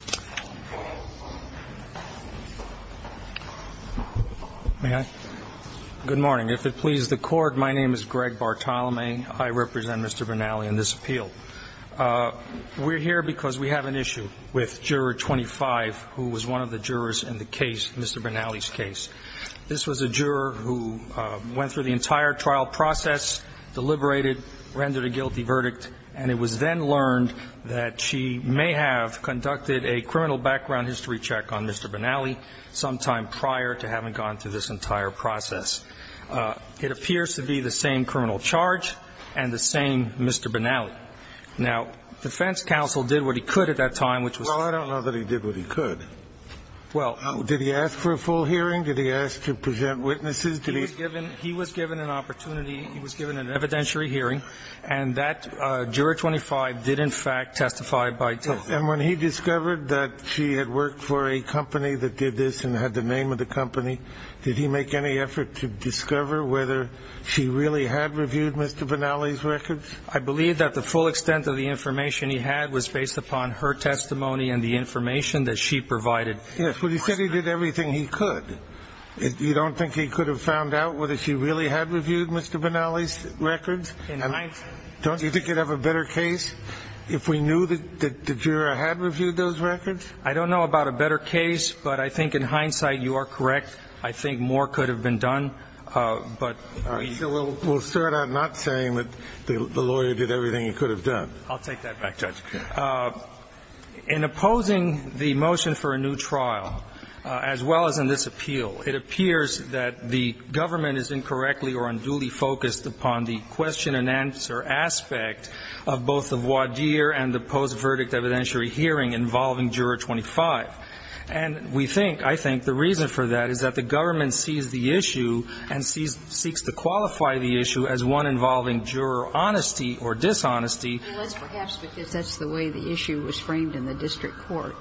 . May I? Good morning. If it pleases the court, my name is Greg Bartolome. I represent Mr. Benally in this appeal. We're here because we have an issue with Juror 25, who was one of the jurors in the case, Mr. Benally's case. This was a juror who went through the entire trial process, deliberated, rendered a guilty verdict, and it was then learned that she may have conducted a criminal background history check on Mr. Benally some time prior to having gone through this entire process. It appears to be the same criminal charge and the same Mr. Benally. Now, defense counsel did what he could at that time, which was Well, I don't know that he did what he could. Well Did he ask for a full hearing? Did he ask to present witnesses? Did he He was given an opportunity. He was given an evidentiary hearing, and that Juror 25 did in fact testify by And when he discovered that she had worked for a company that did this and had the name of the company, did he make any effort to discover whether she really had reviewed Mr. Benally's records? I believe that the full extent of the information he had was based upon her testimony and the information that she provided. Yes, but he said he did everything he could. You don't think he could have found out whether she really had reviewed Mr. Benally's records? And I Don't you think you'd have a better case if we knew that the juror had reviewed those records? I don't know about a better case, but I think in hindsight you are correct. I think more could have been done, but So we'll start out not saying that the lawyer did everything he could have done. I'll take that back, Judge. In opposing the motion for a new trial, as well as in this appeal, it appears that the government is incorrectly or unduly focused upon the question-and-answer aspect of both the voir dire and the post-verdict evidentiary hearing involving Juror 25. And we think, I think, the reason for that is that the government sees the issue and seeks to qualify the issue as one involving juror honesty or dishonesty. Unless, perhaps, because that's the way the issue was framed in the district court.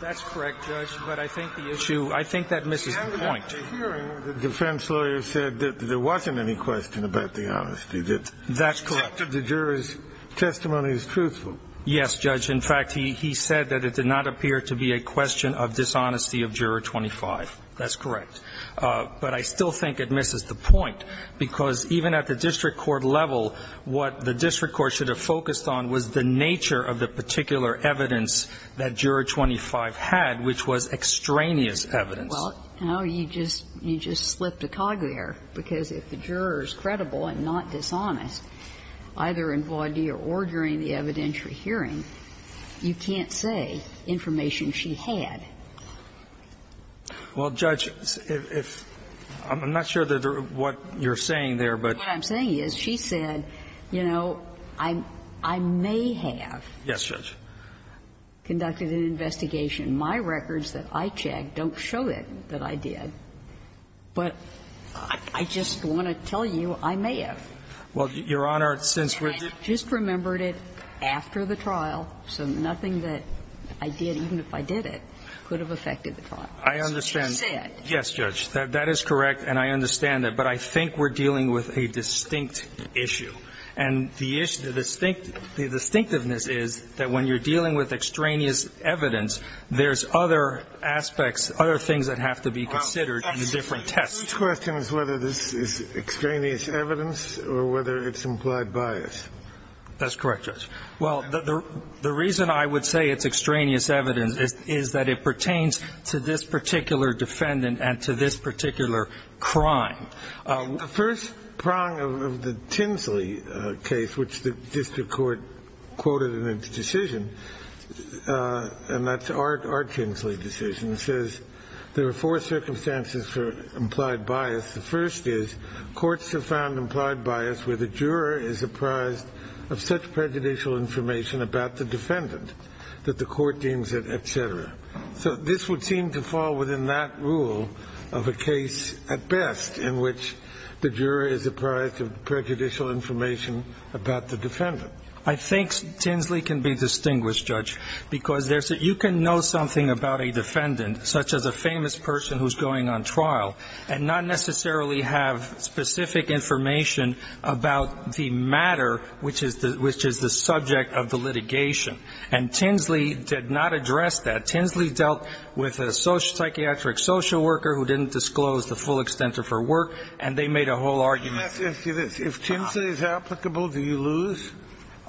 That's correct, Judge, but I think the issue, I think that misses the point. The hearing, the defense lawyer said that there wasn't any question about the honesty. That's correct. The juror's testimony is truthful. Yes, Judge. In fact, he said that it did not appear to be a question of dishonesty of Juror 25. That's correct. But I still think it misses the point, because even at the district court level, what the district court should have focused on was the nature of the particular evidence that Juror 25 had, which was extraneous evidence. Well, no, you just slipped a cog there, because if the juror is credible and not dishonest, either in voir dire or during the evidentiary hearing, you can't say information she had. Well, Judge, if you're not sure what you're saying there, but you know, I may have conducted an investigation. My records that I checked don't show it, but I'm not sure that I did. But I just want to tell you, I may have. Well, Your Honor, since we're just remembered it after the trial, so nothing that I did, even if I did it, could have affected the trial. I understand. She said. Yes, Judge. That is correct, and I understand that. But I think we're dealing with a distinct issue. There's other aspects, other things that have to be considered in the different tests. The question is whether this is extraneous evidence or whether it's implied bias. That's correct, Judge. Well, the reason I would say it's extraneous evidence is that it pertains to this particular defendant and to this particular crime. The first prong of the Tinsley case, which the district court quoted in its decision, and that's our Tinsley decision, says there are four circumstances for implied bias. The first is courts have found implied bias where the juror is apprised of such prejudicial information about the defendant that the court deems it, etc. So this would seem to fall within that rule of a case at best in which the juror is apprised of prejudicial information about the defendant. I think Tinsley can be distinguished, Judge, because you can know something about a defendant, such as a famous person who's going on trial, and not necessarily have specific information about the matter which is the subject of the litigation. And Tinsley did not address that. Tinsley dealt with a psychiatric social worker who didn't disclose the full extent of her work, and they made a whole argument. If Tinsley is applicable, do you lose?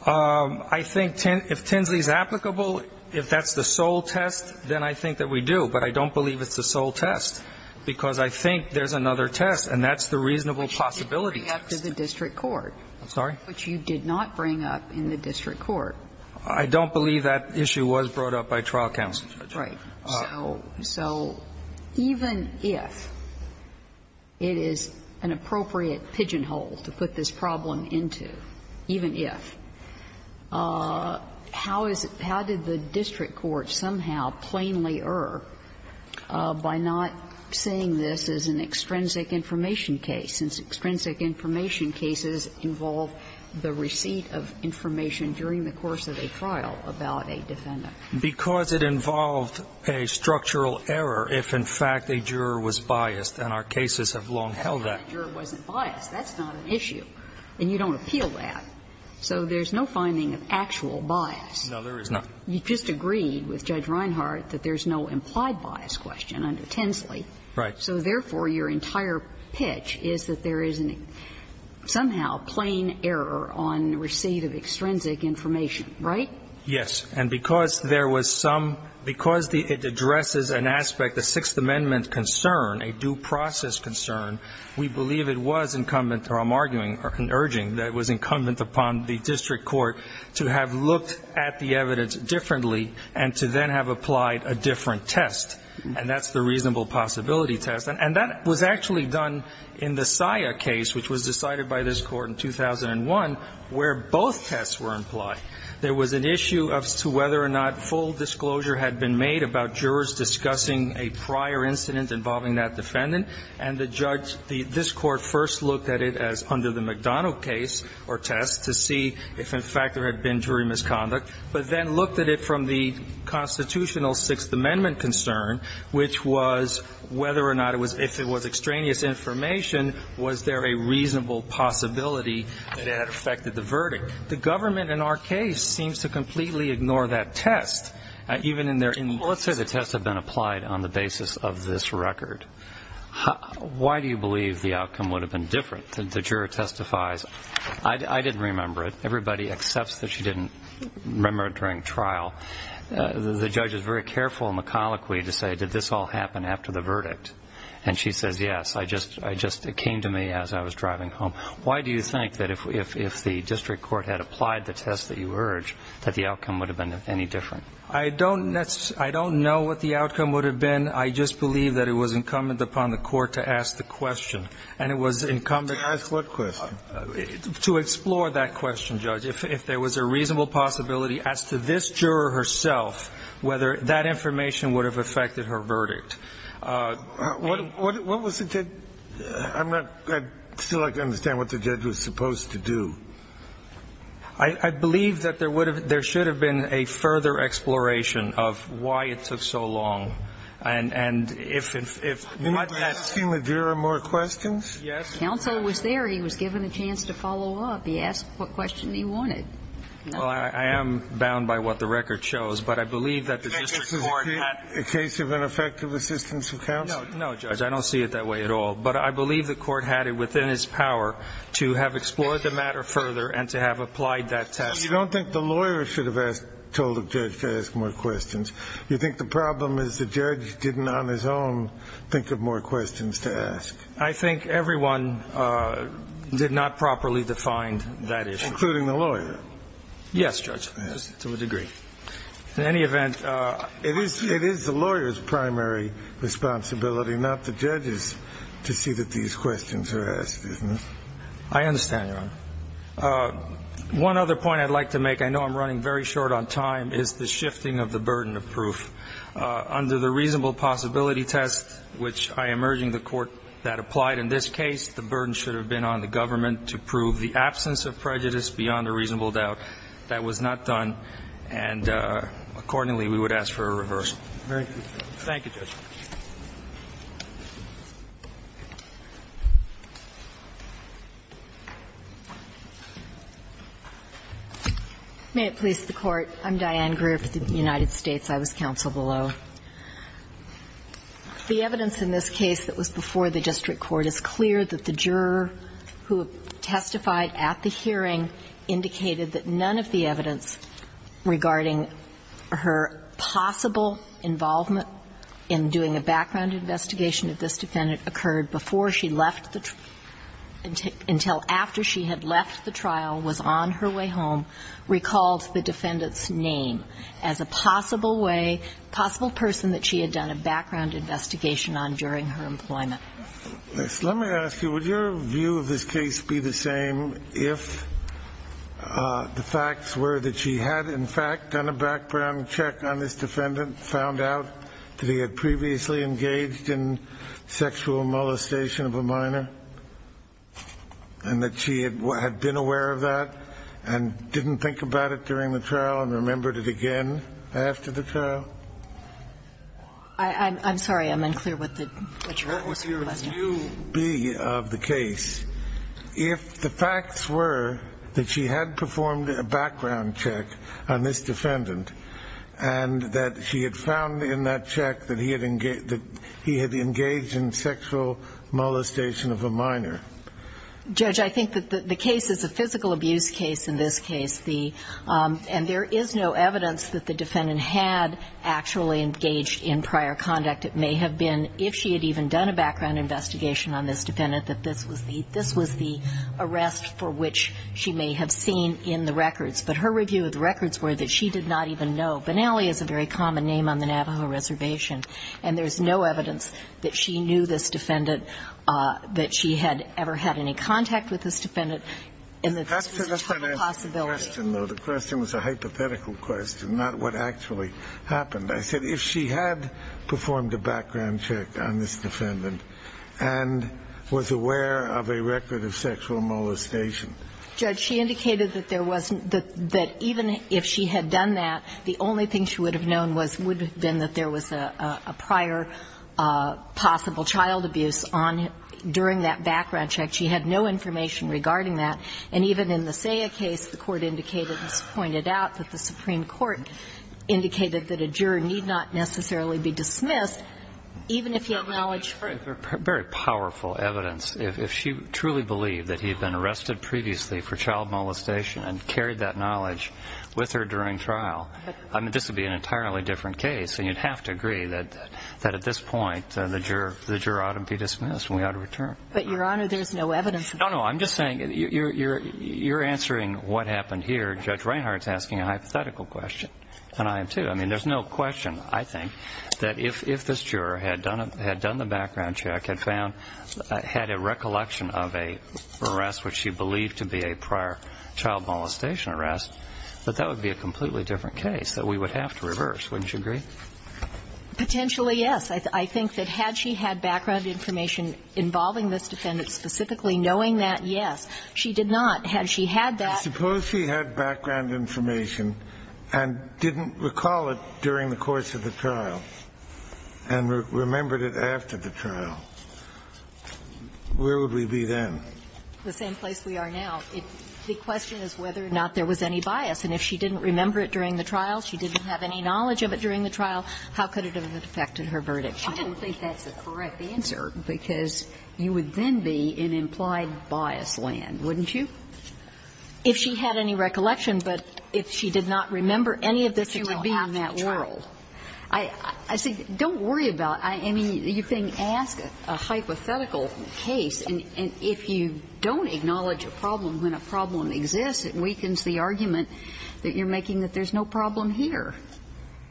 I think if Tinsley is applicable, if that's the sole test, then I think that we do. But I don't believe it's the sole test, because I think there's another test, and that's the reasonable possibility test. Which you did bring up to the district court. I'm sorry? Which you did not bring up in the district court. I don't believe that issue was brought up by trial counsel. Right. So even if it is an appropriate pigeonhole to put this problem into, even if, how is it how did the district court somehow plainly err by not saying this is an extrinsic information case, since extrinsic information cases involve the receipt of information during the course of a trial about a defendant? Because it involved a structural error if, in fact, a juror was biased, and our cases have long held that. That's not a juror wasn't biased. That's not an issue. And you don't appeal that. So there's no finding of actual bias. No, there is not. You just agreed with Judge Reinhart that there's no implied bias question under Tinsley. Right. So therefore, your entire pitch is that there is somehow plain error on receipt of extrinsic information, right? Yes. And because there was some, because it addresses an aspect, a Sixth Amendment concern, a due process concern, we believe it was incumbent, or I'm arguing, or urging that it was incumbent upon the district court to have looked at the evidence differently and to then have applied a different test. And that's the reasonable possibility test. And that was actually done in the SIA case, which was decided by this Court in 2001, where both tests were implied. There was an issue as to whether or not full disclosure had been made about jurors discussing a prior incident involving that defendant. And the judge, this Court first looked at it as under the McDonough case or test to see if, in fact, there had been jury misconduct. But then looked at it from the constitutional Sixth Amendment concern, which was whether or not it was, if it was extraneous information, was there a reasonable possibility that it had affected the verdict? The government, in our case, seems to completely ignore that test. Even in their in- Let's say the tests have been applied on the basis of this record. Why do you believe the outcome would have been different? The juror testifies, I didn't remember it. Everybody accepts that she didn't remember it during trial. The judge is very careful in the colloquy to say, did this all happen after the verdict? And she says, yes, I just, it came to me as I was driving home. Why do you think that if the district court had applied the test that you urge, that the outcome would have been any different? I don't know what the outcome would have been. I just believe that it was incumbent upon the court to ask the question. And it was incumbent- To ask what question? To explore that question, Judge. If there was a reasonable possibility, as to this juror herself, whether that information would have affected her verdict. What was the, I'm not, I'd still like to understand what the judge was supposed to do. I believe that there should have been a further exploration of why it took so long. And if not, that's- You're asking that there are more questions? Yes. Counsel was there. He was given a chance to follow up. He asked what question he wanted. Well, I am bound by what the record shows. But I believe that the district court had- A case of ineffective assistance of counsel? No, Judge. I don't see it that way at all. But I believe the court had it within his power to have explored the matter further and to have applied that test. So you don't think the lawyer should have asked, told the judge to ask more questions? You think the problem is the judge didn't on his own think of more questions to ask? I think everyone did not properly define that issue. Including the lawyer? Yes, Judge, to a degree. In any event- It is the lawyer's primary responsibility, not the judge's, to see that these questions are asked, isn't it? I understand, Your Honor. One other point I'd like to make, I know I'm running very short on time, is the shifting of the burden of proof. Under the reasonable possibility test, which I am urging the court that applied in this case, the burden should have been on the government to prove the absence of prejudice beyond a reasonable doubt. That was not done, and accordingly, we would ask for a reverse. Thank you, Judge. May it please the Court. I'm Diane Greer for the United States. I was counsel below. The evidence in this case that was before the district court is clear that the juror who testified at the hearing indicated that none of the evidence regarding her possible involvement in doing a background investigation of this defendant occurred before she left the trial, until after she had left the trial, was on her way home, recalled the defendant's name as a possible way, possible person that she had done a background investigation on during her employment. Let me ask you, would your view of this case be the same if the facts were that she had, in fact, done a background check on this defendant, found out that he had previously engaged in sexual molestation of a minor, and that she had been aware of that, and didn't think about it during the trial, and remembered it again after the trial? I'm sorry, I'm unclear what the juror was saying. Would your view be of the case, if the facts were that she had performed a background check on this defendant, and that she had found in that check that he had engaged in sexual molestation of a minor? Judge, I think that the case is a physical abuse case in this case. And there is no evidence that the defendant had actually engaged in prior conduct. It may have been, if she had even done a background investigation on this defendant, that this was the arrest for which she may have seen in the records. But her review of the records were that she did not even know. Benally is a very common name on the Navajo Reservation. And there's no evidence that she knew this defendant, that she had ever had any contact with this defendant, and that this was a total possibility. The question was a hypothetical question, not what actually happened. I said if she had performed a background check on this defendant and was aware of a record of sexual molestation. Judge, she indicated that there wasn't the – that even if she had done that, the only thing she would have known was – would have been that there was a prior possible child abuse on – during that background check. She had no information regarding that. And even in the Saya case, the Court indicated, as pointed out, that the Supreme Court indicated that a juror need not necessarily be dismissed, even if he had knowledge. Very powerful evidence. If she truly believed that he had been arrested previously for child molestation and carried that knowledge with her during trial, I mean, this would be an entirely different case. And you'd have to agree that at this point the juror ought to be dismissed and we ought to return. But, Your Honor, there's no evidence of that. No, no. I'm just saying you're answering what happened here. Judge Reinhart's asking a hypothetical question, and I am, too. I mean, there's no question, I think, that if this juror had done the background check, had found – had a recollection of an arrest which she believed to be a prior child molestation arrest, that that would be a completely different case that we would have to reverse. Wouldn't you agree? Potentially, yes. I think that had she had background information involving this defendant, specifically knowing that, yes. She did not. Had she had that – Suppose she had background information and didn't recall it during the course of the trial and remembered it after the trial. Where would we be then? The same place we are now. The question is whether or not there was any bias. And if she didn't remember it during the trial, she didn't have any knowledge of it during the trial, how could it have affected her verdict? I don't think that's the correct answer, because you would then be in implied bias land, wouldn't you? If she had any recollection, but if she did not remember any of this, you would be in that world. She would have it after the trial. I see. Don't worry about it. I mean, you're being asked a hypothetical case, and if you don't acknowledge a problem when a problem exists, it weakens the argument that you're making that there's no problem here.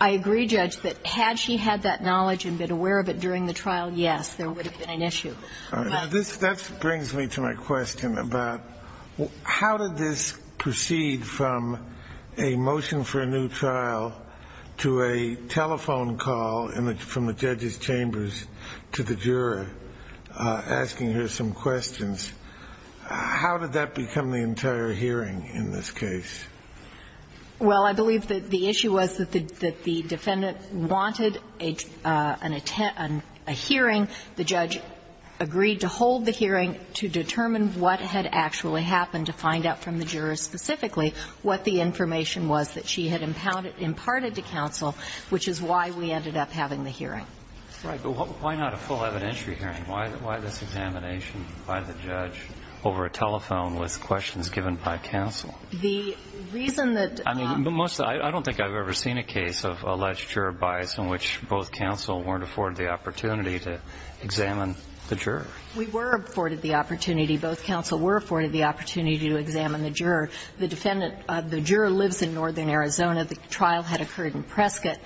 I agree, Judge, that had she had that knowledge and been aware of it during the trial, yes, there would have been an issue. That brings me to my question about how did this proceed from a motion for a new trial to a telephone call from the judge's chambers to the juror asking her some questions? How did that become the entire hearing in this case? Well, I believe that the issue was that the defendant wanted a hearing. The judge agreed to hold the hearing to determine what had actually happened, to find out from the juror specifically what the information was that she had imparted to counsel, which is why we ended up having the hearing. Right. But why not a full evidentiary hearing? Why this examination by the judge over a telephone with questions given by counsel? The reason that the нимost I don't think I've ever seen a case of alleged juror bias in which both counsel weren't afforded the opportunity. Examine the juror. We were afforded the opportunity. Both counsel were afforded the opportunity to examine the juror. The defendant of the juror lives in northern Arizona. The trial had occurred in Prescott.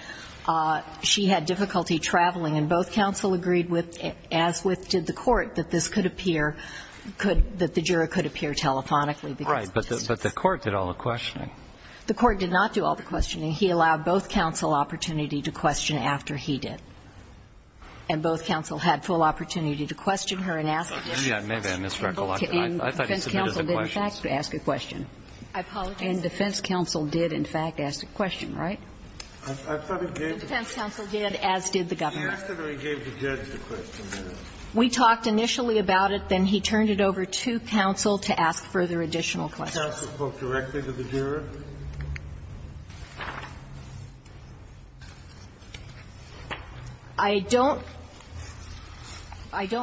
She had difficulty traveling. And both counsel agreed with, as did the Court, that this could appear, could, that the juror could appear telephonically. Right. But the Court did all the questioning. The Court did not do all the questioning. He allowed both counsel opportunity to question after he did. And both counsel had full opportunity to question her and ask a question. And defense counsel did, in fact, ask a question. I apologize. And defense counsel did, in fact, ask a question, right? The defense counsel did, as did the Governor. He asked her and he gave the judge a question. We talked initially about it. And then he turned it over to counsel to ask further additional questions. Did counsel quote directly to the juror? I don't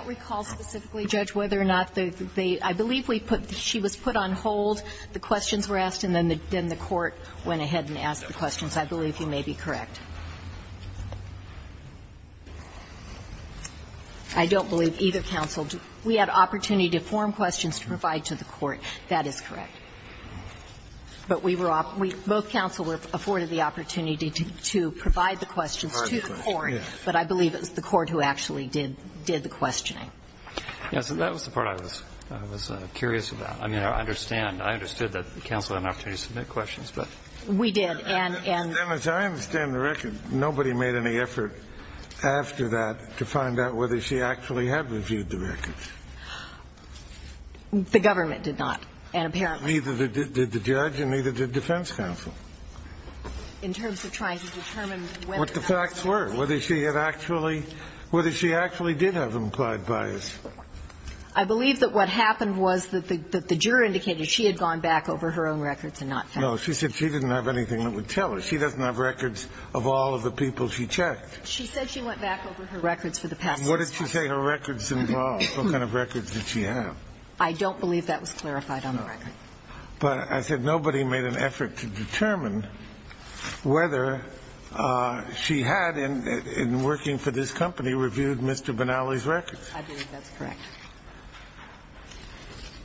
recall specifically, Judge, whether or not they, I believe she was put on hold. The questions were asked and then the Court went ahead and asked the questions. I believe you may be correct. I don't believe either counsel. We had opportunity to form questions to provide to the Court. That is correct. But we were, both counsel were afforded the opportunity to provide the questions to the Court. But I believe it was the Court who actually did the questioning. Yes. That was the part I was curious about. I mean, I understand. I understood that counsel had an opportunity to submit questions, but. We did. And as I understand the record, nobody made any effort after that to find out whether she actually had reviewed the records. The government did not. And apparently. Neither did the judge and neither did defense counsel. In terms of trying to determine whether. What the facts were. Whether she had actually, whether she actually did have implied bias. I believe that what happened was that the juror indicated she had gone back over her own records and not found anything. No, she said she didn't have anything that would tell her. She doesn't have records of all of the people she checked. She said she went back over her records for the past six months. What did she say her records involved? What kind of records did she have? I don't believe that was clarified on the record. But I said nobody made an effort to determine whether she had, in working for this company, reviewed Mr. Benally's records. I believe that's correct.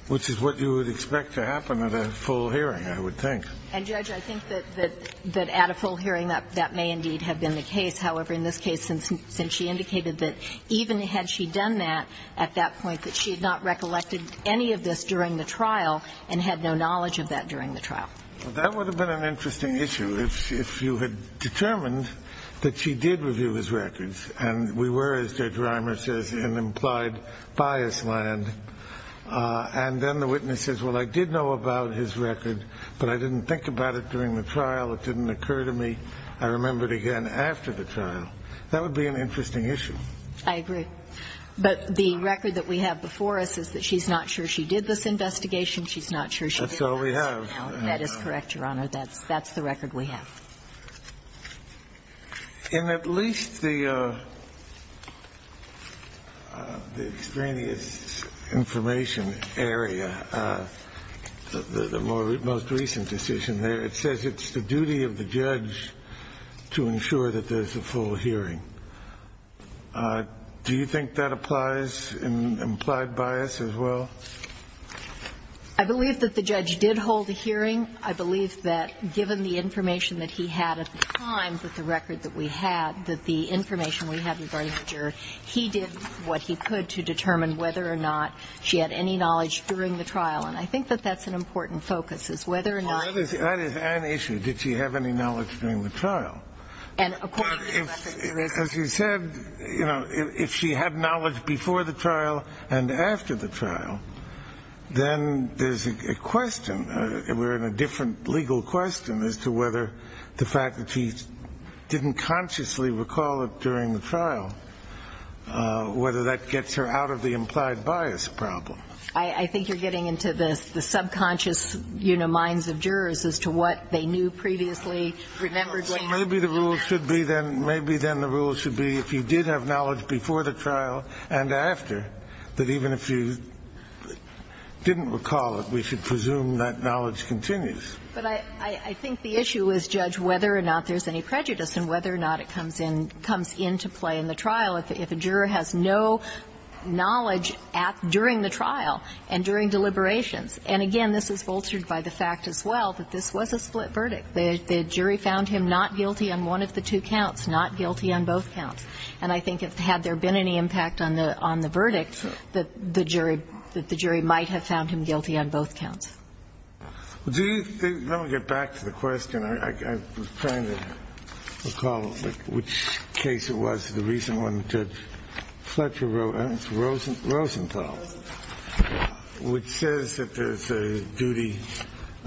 Which is what you would expect to happen at a full hearing, I would think. And, Judge, I think that at a full hearing, that may indeed have been the case. However, in this case, since she indicated that even had she done that at that point, that she had not recollected any of this during the trial and had no knowledge of that during the trial. That would have been an interesting issue if you had determined that she did review his records. And we were, as Judge Reimer says, in implied bias land. And then the witness says, well, I did know about his record, but I didn't think about it during the trial. It didn't occur to me. I remembered again after the trial. That would be an interesting issue. I agree. But the record that we have before us is that she's not sure she did this investigation. She's not sure she did that. That's all we have. That is correct, Your Honor. That's the record we have. In at least the extraneous information area, the most recent decision there, it says it's the duty of the judge to ensure that there's a full hearing. Do you think that applies in implied bias as well? I believe that the judge did hold a hearing. I believe that given the information that he had at the time with the record that we had, that the information we have regarding the juror, he did what he could to determine whether or not she had any knowledge during the trial. And I think that that's an important focus, is whether or not he did. Well, that is an issue. Did she have any knowledge during the trial? And, of course, as you said, you know, if she had knowledge before the trial and after the trial, then there's a question. We're in a different legal question as to whether the fact that he didn't consciously recall it during the trial, whether that gets her out of the implied bias problem. I think you're getting into the subconscious, you know, minds of jurors as to what they knew previously, remembered when. So maybe the rule should be then, maybe then the rule should be if you did have knowledge before the trial and after, that even if you didn't recall it, we should assume that knowledge continues. But I think the issue is judge whether or not there's any prejudice and whether or not it comes into play in the trial if a juror has no knowledge during the trial and during deliberations. And, again, this is bolstered by the fact as well that this was a split verdict. The jury found him not guilty on one of the two counts, not guilty on both counts. And I think had there been any impact on the verdict, the jury might have found him guilty on both counts. Do you think – let me get back to the question. I'm trying to recall which case it was, the recent one, Judge Fletcher wrote. It's Rosenthal. Rosenthal. Which says that there's a duty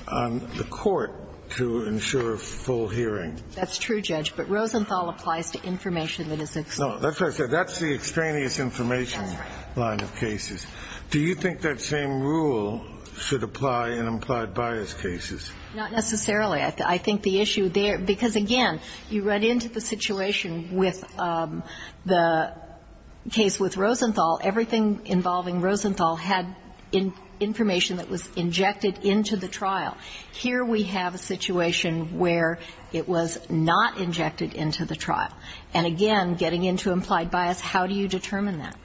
on the court to ensure full hearing. That's true, Judge. But Rosenthal applies to information that is extraneous. No, that's what I said. That's the extraneous information line of cases. Do you think that same rule should apply in implied bias cases? Not necessarily. I think the issue there – because, again, you run into the situation with the case with Rosenthal. Everything involving Rosenthal had information that was injected into the trial. Here we have a situation where it was not injected into the trial. And, again, getting into implied bias, how do you determine that?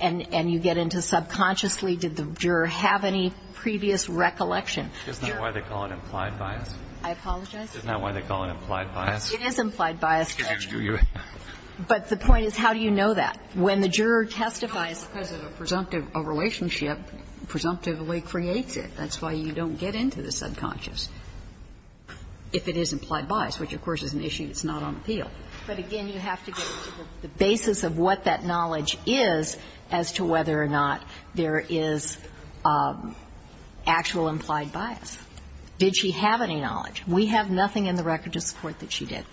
And you get into subconsciously, did the juror have any previous recollection? Is that why they call it implied bias? I apologize? Is that why they call it implied bias? It is implied bias, Judge. But the point is, how do you know that? When the juror testifies – No, because a presumptive – a relationship presumptively creates it. That's why you don't get into the subconscious. If it is implied bias, which, of course, is an issue that's not on appeal. But, again, you have to get to the basis of what that knowledge is as to whether or not there is actual implied bias. Did she have any knowledge? We have nothing in the record of support that she did.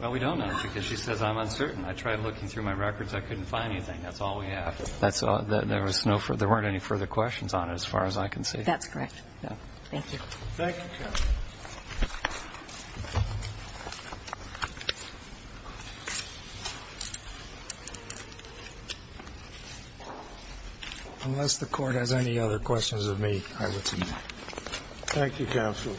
Well, we don't know, because she says, I'm uncertain. I tried looking through my records. I couldn't find anything. That's all we have. That's all. There was no further – there weren't any further questions on it as far as I can That's correct. Thank you. Thank you, Counsel. Unless the Court has any other questions of me, I would submit. Thank you, Counsel.